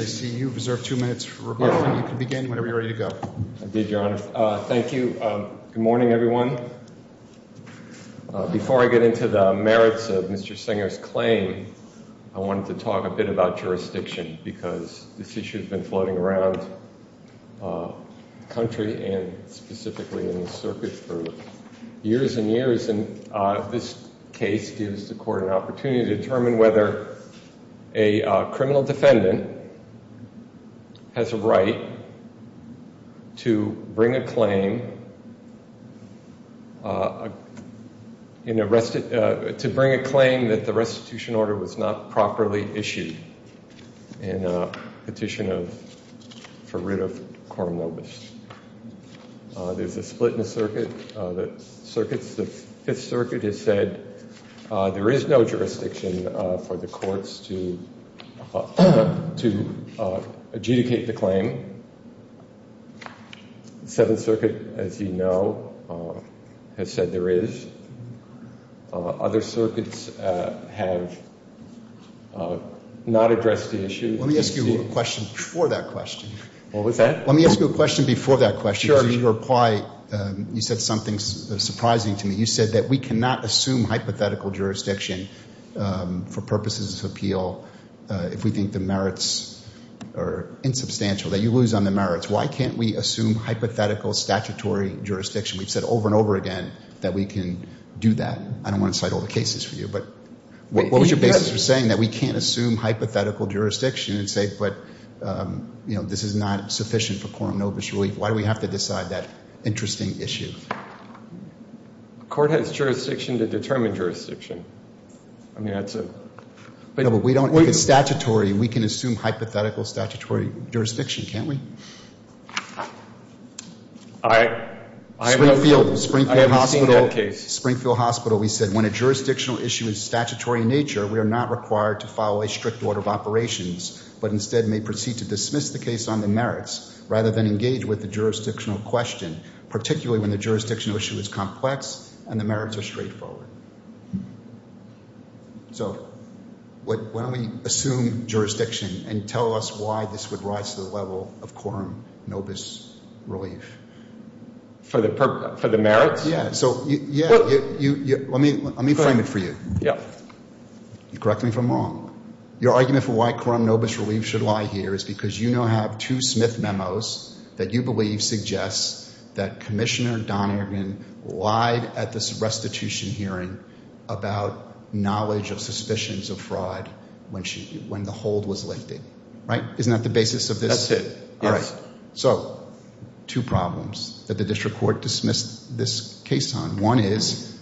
before I get into the merits of Mr. Stenger's claim, I wanted to talk a bit about jurisdiction because this issue has been floating around the country and specifically in the circuit for years and years. And this case gives the court an opportunity to determine whether a criminal defendant has a right to bring a claim, to bring a claim that the restitution order was not properly issued in a petition for rid of Coram Nobis. There's a split in to adjudicate the claim. The Seventh Circuit, as you know, has said there is. Other circuits have not addressed the issue. Let me ask you a question before that question. What was that? Let me ask you a question before that question. Sure. Because your reply, you said something surprising to me. You said that we cannot assume hypothetical jurisdiction for purposes of appeal if we think the merits are insubstantial, that you lose on the merits. Why can't we assume hypothetical statutory jurisdiction? We've said over and over again that we can do that. I don't want to cite all the cases for you, but what was your basis for saying that we can't assume hypothetical jurisdiction and say, but, you know, this is not sufficient for Coram Nobis relief? Why do we have to decide that interesting issue? The court has jurisdiction to determine jurisdiction. I mean, that's a. No, but we don't. If it's statutory, we can assume hypothetical statutory jurisdiction, can't we? I. Springfield Hospital. I haven't seen that case. Springfield Hospital, we said when a jurisdictional issue is statutory in nature, we are not required to follow a strict order of operations, but instead may proceed to dismiss the case on the merits rather than engage with the jurisdictional question, particularly when the jurisdictional issue is complex and the merits are straightforward. So why don't we assume jurisdiction and tell us why this would rise to the level of Coram Nobis relief? For the merits? Yeah. So yeah. Let me frame it for you. Correct me if I'm wrong. Your argument for why Coram Nobis relief should lie here is because you now have two Smith memos that you believe suggests that Commissioner Donergan lied at this restitution hearing about knowledge of suspicions of fraud when the hold was lifted. Right? Isn't that the basis of this? That's it. All right. So two problems that the district court dismissed this case on. One is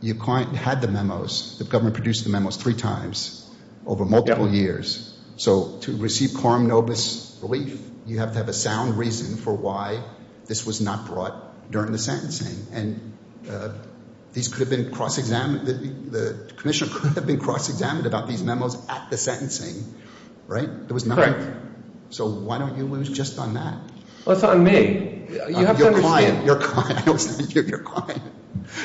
you had the memos, the government produced the memos three times over multiple years. So to receive Coram Nobis relief, you have to have a sound reason for why this was not brought during the sentencing. And these could have been cross-examined, the Commissioner could have been cross-examined about these memos at the sentencing. Right? There was none. So why don't you lose just on that? Well, it's on me. Your client. Your client. I don't understand. Your client.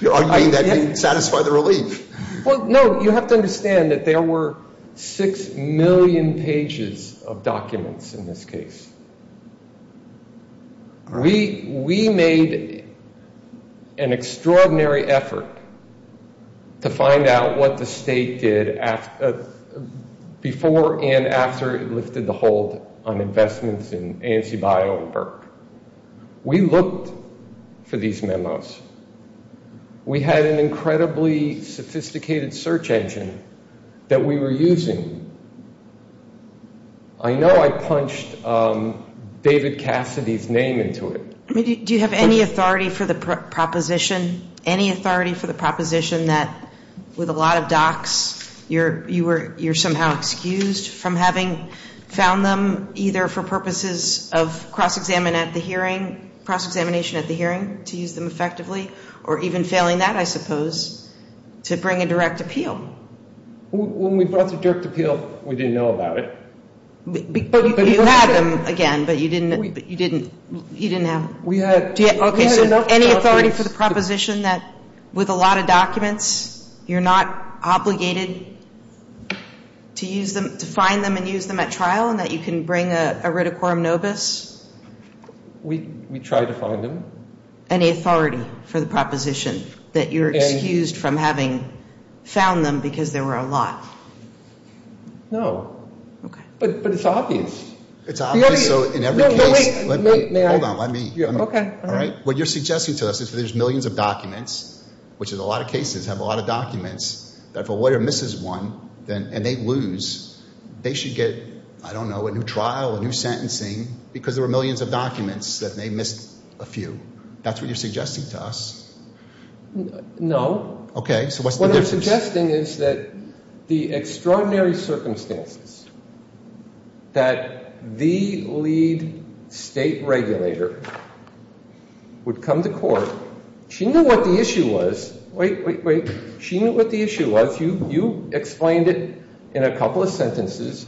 You're arguing that didn't satisfy the relief. Well, no, you have to understand that there were six million pages of documents in this case. We made an extraordinary effort to find out what the state did before and after it lifted the hold on investments in ANC Bio and Burke. We looked for these memos. We had an incredibly sophisticated search engine that we were using. I know I punched David Cassidy's name into it. Do you have any authority for the proposition, any authority for the proposition that with a lot of docs, you're somehow excused from having found them either for purposes of cross-examination at the hearing to use them effectively or even failing that, I suppose, to bring a direct appeal? When we brought the direct appeal, we didn't know about it. But you had them again, but you didn't have them. Any authority for the proposition that with a lot of documents, you're not obligated to use them, to find them and use them at trial and that you can bring a ridicorum nobis? We try to find them. Any authority for the proposition that you're excused from having found them because there were a lot? No. Okay. But it's obvious. It's obvious. So in every case... No, wait. May I? Hold on. Let me. Okay. All right. What you're suggesting to us is there's millions of documents, which in a lot of cases have a lot of documents, that if a lawyer misses one and they lose, they should get, I don't know, a new trial, a new sentencing because there were millions of documents that they missed a few. That's what you're suggesting to us. No. Okay. So what's the difference? What I'm suggesting is that the extraordinary circumstances that the lead state regulator would come to court. She knew what the issue was. Wait, wait, wait. She knew what the issue was. You explained it in a couple of sentences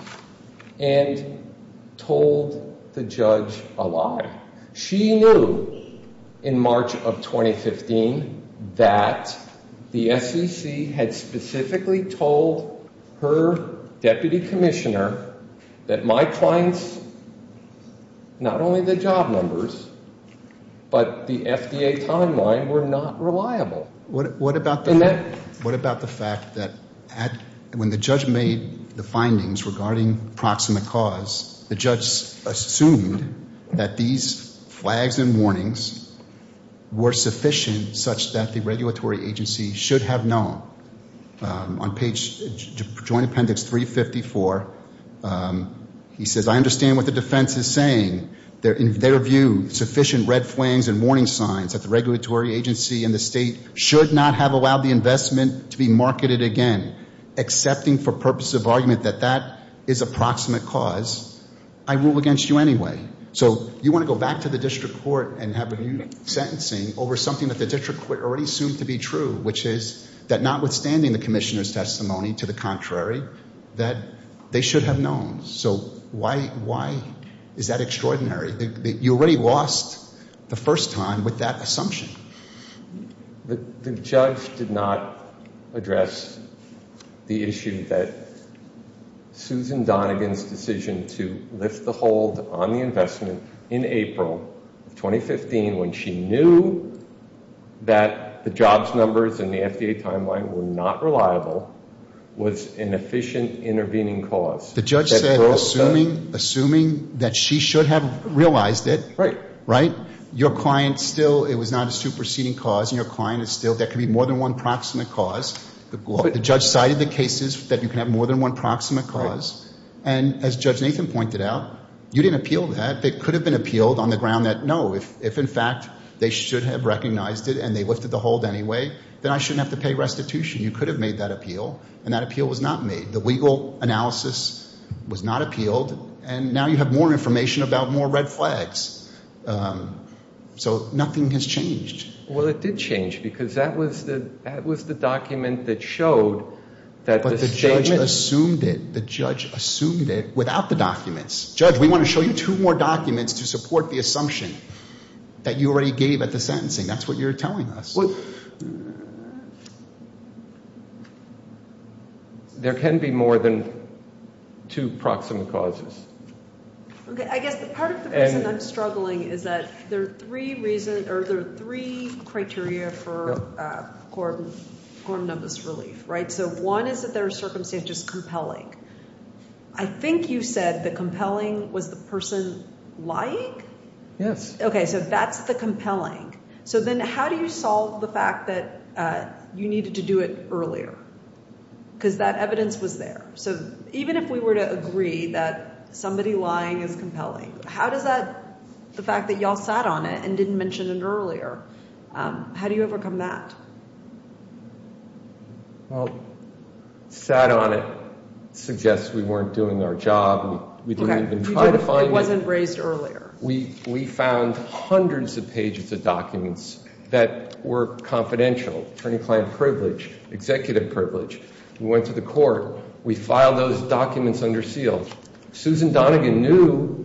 and told the judge a lie. She knew in March of 2015 that the SEC had specifically told her deputy commissioner that my clients, not only the job numbers, but the FDA timeline were not reliable. What about the fact that when the judge made the findings regarding proximate cause, the judge assumed that these were circumstances such that the regulatory agency should have known. On page, Joint Appendix 354, he says, I understand what the defense is saying. In their view, sufficient red flangs and warning signs that the regulatory agency and the state should not have allowed the investment to be marketed again. Accepting for purposes of argument that that is a proximate cause, I rule against you anyway. So you want to go back to the district court and have a new sentencing over something that the district court already assumed to be true, which is that notwithstanding the commissioner's testimony, to the contrary, that they should have known. So why is that extraordinary? You already lost the first time with that assumption. The judge did not address the issue that Susan Donegan's decision to lift the hold on the investment in April of 2015, when she knew that the jobs numbers in the FDA timeline were not reliable, was an efficient intervening cause. The judge said, assuming that she should have realized it, your client still, it was not a superseding cause, and your client is still, there could be more than one proximate cause. The judge cited the cases that you can have more than one proximate cause. And as Judge Nathan pointed out, you didn't appeal that. It could have been appealed on fact they should have recognized it and they lifted the hold anyway, then I shouldn't have to pay restitution. You could have made that appeal. And that appeal was not made. The legal analysis was not appealed. And now you have more information about more red flags. So nothing has changed. Well, it did change because that was the document that showed that the statement... But the judge assumed it. The judge assumed it without the documents. Judge, we want to show you two more documents to support the assumption that you already gave at the sentencing. That's what you're telling us. There can be more than two proximate causes. Okay. I guess the part of the reason I'm struggling is that there are three reasons, or there are three criteria for gorm numbers relief, right? So one is that there are circumstances that are compelling. I think you said the compelling was the person lying? Yes. Okay. So that's the compelling. So then how do you solve the fact that you needed to do it earlier? Because that evidence was there. So even if we were to agree that somebody lying is compelling, how does that... The fact that y'all sat on it and didn't mention it earlier, how do you overcome that? Well, sat on it suggests we weren't doing our job. We didn't even try to find it. Okay. It wasn't raised earlier. We found hundreds of pages of documents that were confidential, attorney-client privilege, executive privilege. We went to the court. We filed those documents under seal. Susan Donegan knew,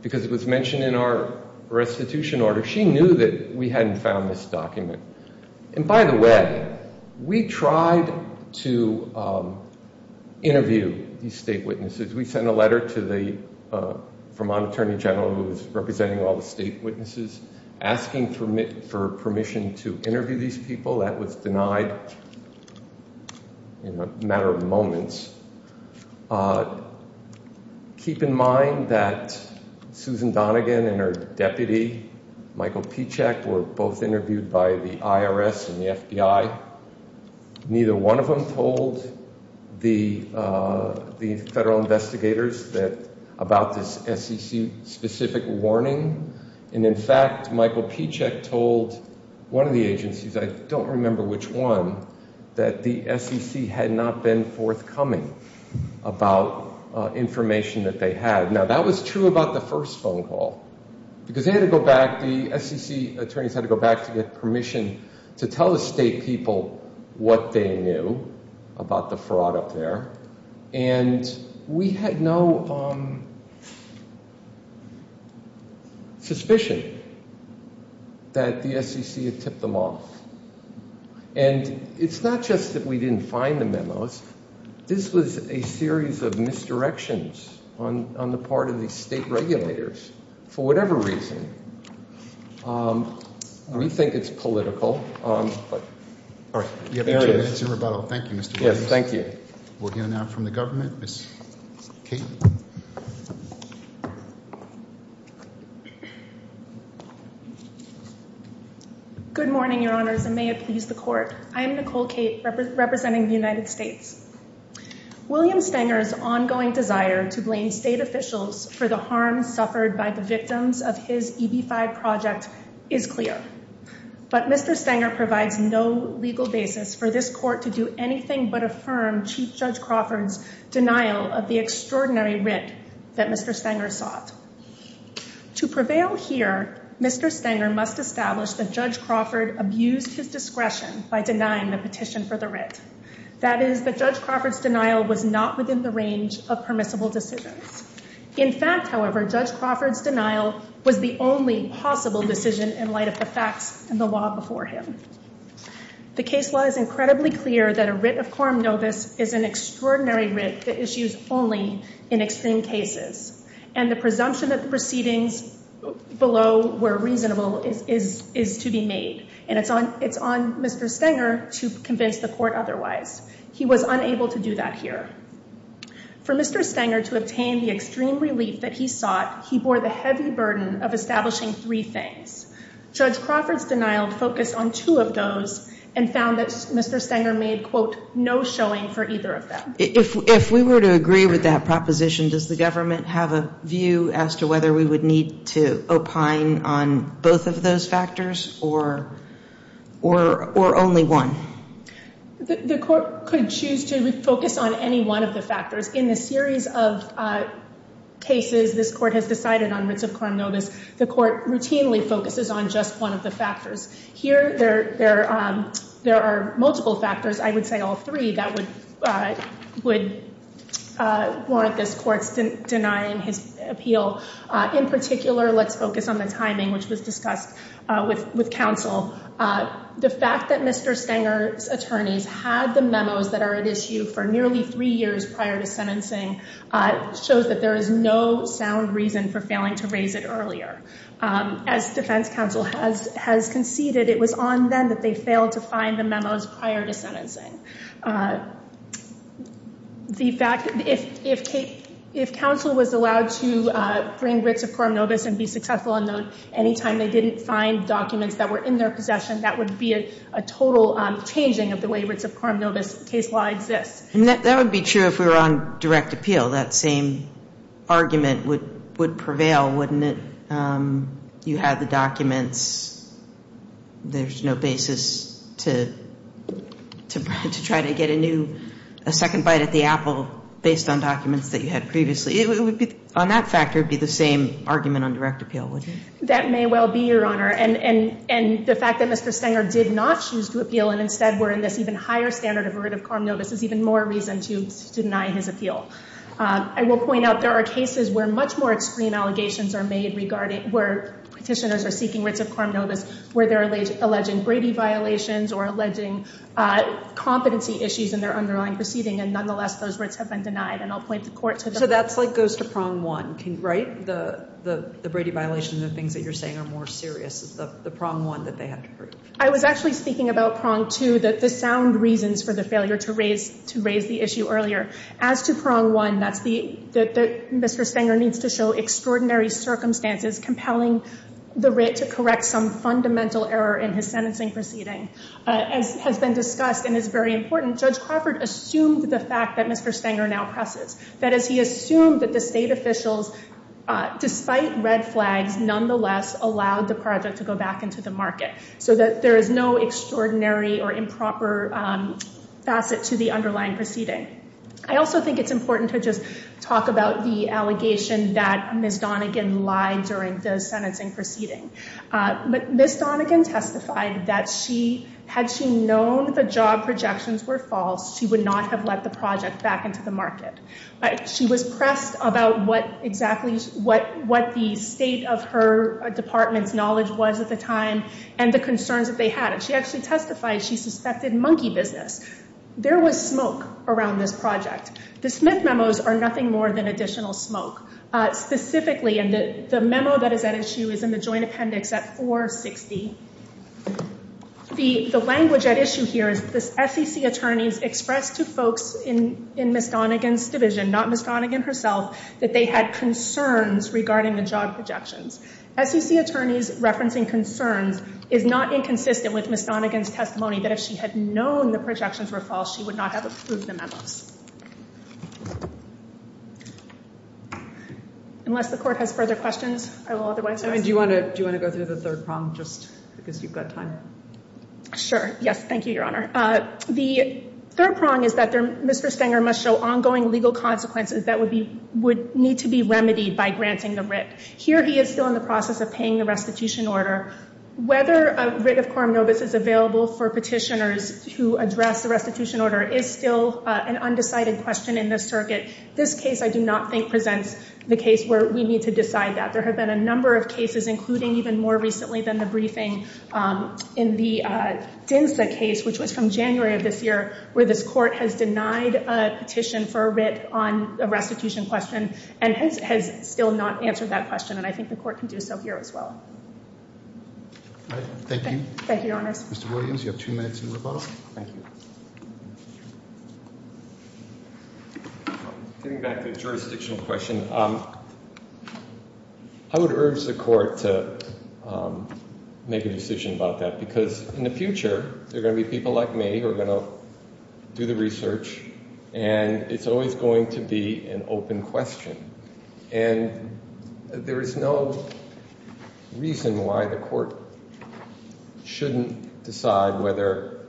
because it was mentioned in our restitution order, she knew that we hadn't found this document. And by the way, we tried to interview these state witnesses. We sent a letter to the Vermont Attorney General, who was representing all the state witnesses, asking for permission to interview these people. That was denied in a matter of moments. Keep in mind that Susan Donegan and her deputy, Michael Pichek, were both interviewed by the IRS and the FBI. Neither one of them told the federal investigators about this SEC-specific warning. And in fact, Michael Pichek told one of the agencies, I don't remember which one, that the SEC had not been forthcoming about information that they had. Now, that was true about the first phone call, because they had to go back, the SEC attorneys had to go back to get permission to tell the state people what they knew about the fraud up there. And we had no suspicion that the SEC had tipped them off. And it's not just that we didn't find the memos. This was a series of misdirections on the part of the state regulators, for whatever reason. We think it's political. All right, we have two minutes in rebuttal. Thank you, Mr. Williams. Yes, thank you. We'll hear now from the government. Ms. Kate. Good morning, Your Honors, and may it please the Court. I am Nicole Kate, representing the United States. William Stenger's ongoing desire to blame state officials for the harm suffered by the victims of his EB-5 project is clear. But Mr. Stenger provides no legal basis for this Court to do anything but affirm Chief Judge Crawford's denial of the extraordinary writ that Mr. Stenger sought. To prevail here, Mr. Stenger must establish that Judge Crawford abused his discretion by denying the petition for the writ. That is, that Judge Crawford's denial was not within the range of permissible decisions. In fact, however, Judge Crawford's denial was the only possible decision in light of the facts and the law before him. The case law is incredibly clear that a writ of quorum novus is an extraordinary writ that issues only in extreme cases. And the presumption that the proceedings below were reasonable is to be made. And it's on Mr. Stenger to convince the Court otherwise. He was unable to do that here. For Mr. Stenger to obtain the extreme relief that he sought, he bore the heavy burden of establishing three things. Judge Crawford's denial focused on two of those and found that Mr. Stenger made, quote, no showing for either of them. If we were to agree with that proposition, does the government have a view as to whether we would need to opine on both of those factors or only one? The Court could choose to focus on any one of the factors. In the series of cases this Court has decided on writs of quorum novus, the Court routinely focuses on just one of the factors. Here, there are multiple factors. I would say all three that would warrant this Court's denying his appeal. In particular, let's focus on the timing, which was discussed with counsel. The fact that Mr. Stenger's attorneys had the memos that are at issue for nearly three years prior to sentencing shows that there is no sound reason for failing to raise it earlier. As defense counsel has conceded, it was on them that they failed to find the memos prior to sentencing. The fact that if counsel was allowed to bring writs of quorum novus and be successful and known any time they didn't find documents that were in their possession, that would be a total changing of the way writs of quorum novus case law exists. That would be true if we were on direct appeal. That same argument would prevail, wouldn't it? You have the documents. There's no basis to try to get a second bite at the apple based on documents that you had previously. On that factor, it would be the same argument on direct appeal, wouldn't it? That may well be, Your Honor. The fact that Mr. Stenger did not choose to appeal and instead were in this even higher standard of a writ of quorum novus is even more reason to deny his appeal. I will point out there are cases where much more extreme allegations are made regarding where petitioners are seeking writs of quorum novus where they're alleging Brady violations or alleging competency issues in their underlying proceeding. And nonetheless, those writs have been denied. And I'll point the court to the- So that's like goes to prong one, right? The Brady violation and the things that you're saying are more serious. It's the prong one that they have to prove. I was actually speaking about prong two, that the sound reasons for the failure to raise the issue earlier. As to prong one, that Mr. Stenger needs to show extraordinary circumstances compelling the writ to correct some fundamental error in his sentencing proceeding. As has been discussed and is very important, Judge Crawford assumed the fact that Mr. Stenger now presses. That is, he assumed that the state officials, despite red flags, nonetheless allowed the so that there is no extraordinary or improper facet to the underlying proceeding. I also think it's important to just talk about the allegation that Ms. Donegan lied during the sentencing proceeding. But Ms. Donegan testified that had she known the job projections were false, she would not have let the project back into the market. She was pressed about what exactly the state of her department's knowledge was at the time and the concerns that they had. And she actually testified she suspected monkey business. There was smoke around this project. The Smith memos are nothing more than additional smoke. Specifically, and the memo that is at issue is in the joint appendix at 460. The language at issue here is the SEC attorneys expressed to folks in Ms. Donegan's division, not Ms. Donegan herself, that they had concerns regarding the job projections. SEC attorneys referencing concerns is not inconsistent with Ms. Donegan's testimony that if she had known the projections were false, she would not have approved the memos. Unless the court has further questions, I will otherwise. I mean, do you want to go through the third prong just because you've got time? Sure. Yes. Thank you, Your Honor. The third prong is that Mr. Stenger must show ongoing legal consequences that would need to be remedied by granting the writ. Here he is still in the process of paying the restitution order. Whether a writ of coram nobis is available for petitioners to address the restitution order is still an undecided question in this circuit. This case I do not think presents the case where we need to decide that. There have been a number of cases, including even more recently than the briefing, in the DINSA case, which was from January of this year, where this court has denied a petition for a writ on a restitution question and has still not answered that question. And I think the court can do so here as well. Thank you. Thank you, Your Honors. Mr. Williams, you have two minutes in rebuttal. Thank you. Getting back to the jurisdictional question, I would urge the court to make a decision about that because in the future there are going to be people like me who are going to do the research and it's always going to be an open question. And there is no reason why the court shouldn't decide whether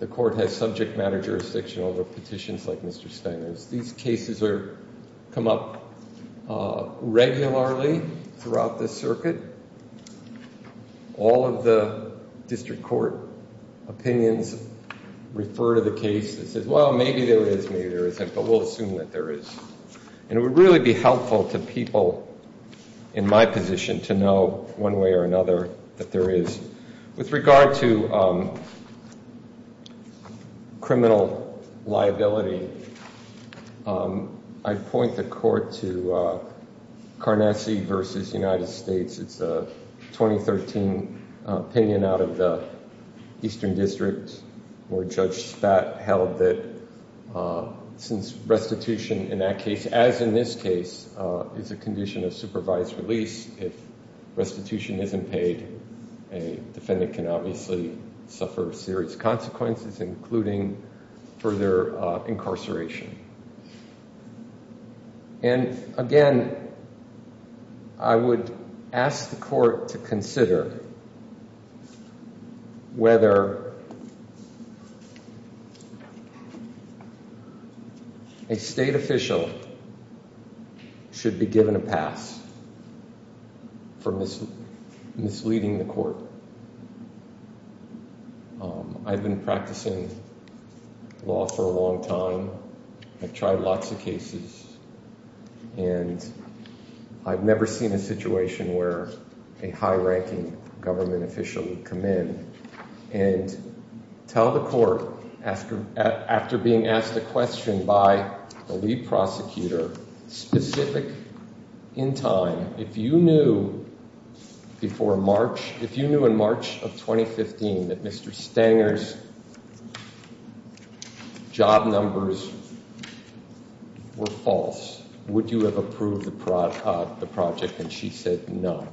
the court has subject matter jurisdiction over petitions like Mr. Steiner's. These cases come up regularly throughout this circuit. All of the district court opinions refer to the case that says, well, maybe there is, maybe there isn't, but we'll assume that there is. And it would really be helpful to people in my position to know one way or another that there is with regard to criminal liability. I'd point the court to Carnassie v. United States. It's a 2013 opinion out of the Eastern District where Judge Spat held that since restitution in that defendant can obviously suffer serious consequences including further incarceration. And again, I would ask the court to consider whether a state official should be given a pass for misleading the court. I've been practicing law for a long time. I've tried lots of cases. And I've never seen a situation where a high-ranking government official would come in and tell the court after being asked a question by the lead prosecutor specific in time, if you knew before March, if you knew in March of 2015 that Mr. Stanger's job numbers were false, would you have approved the project? And she said no.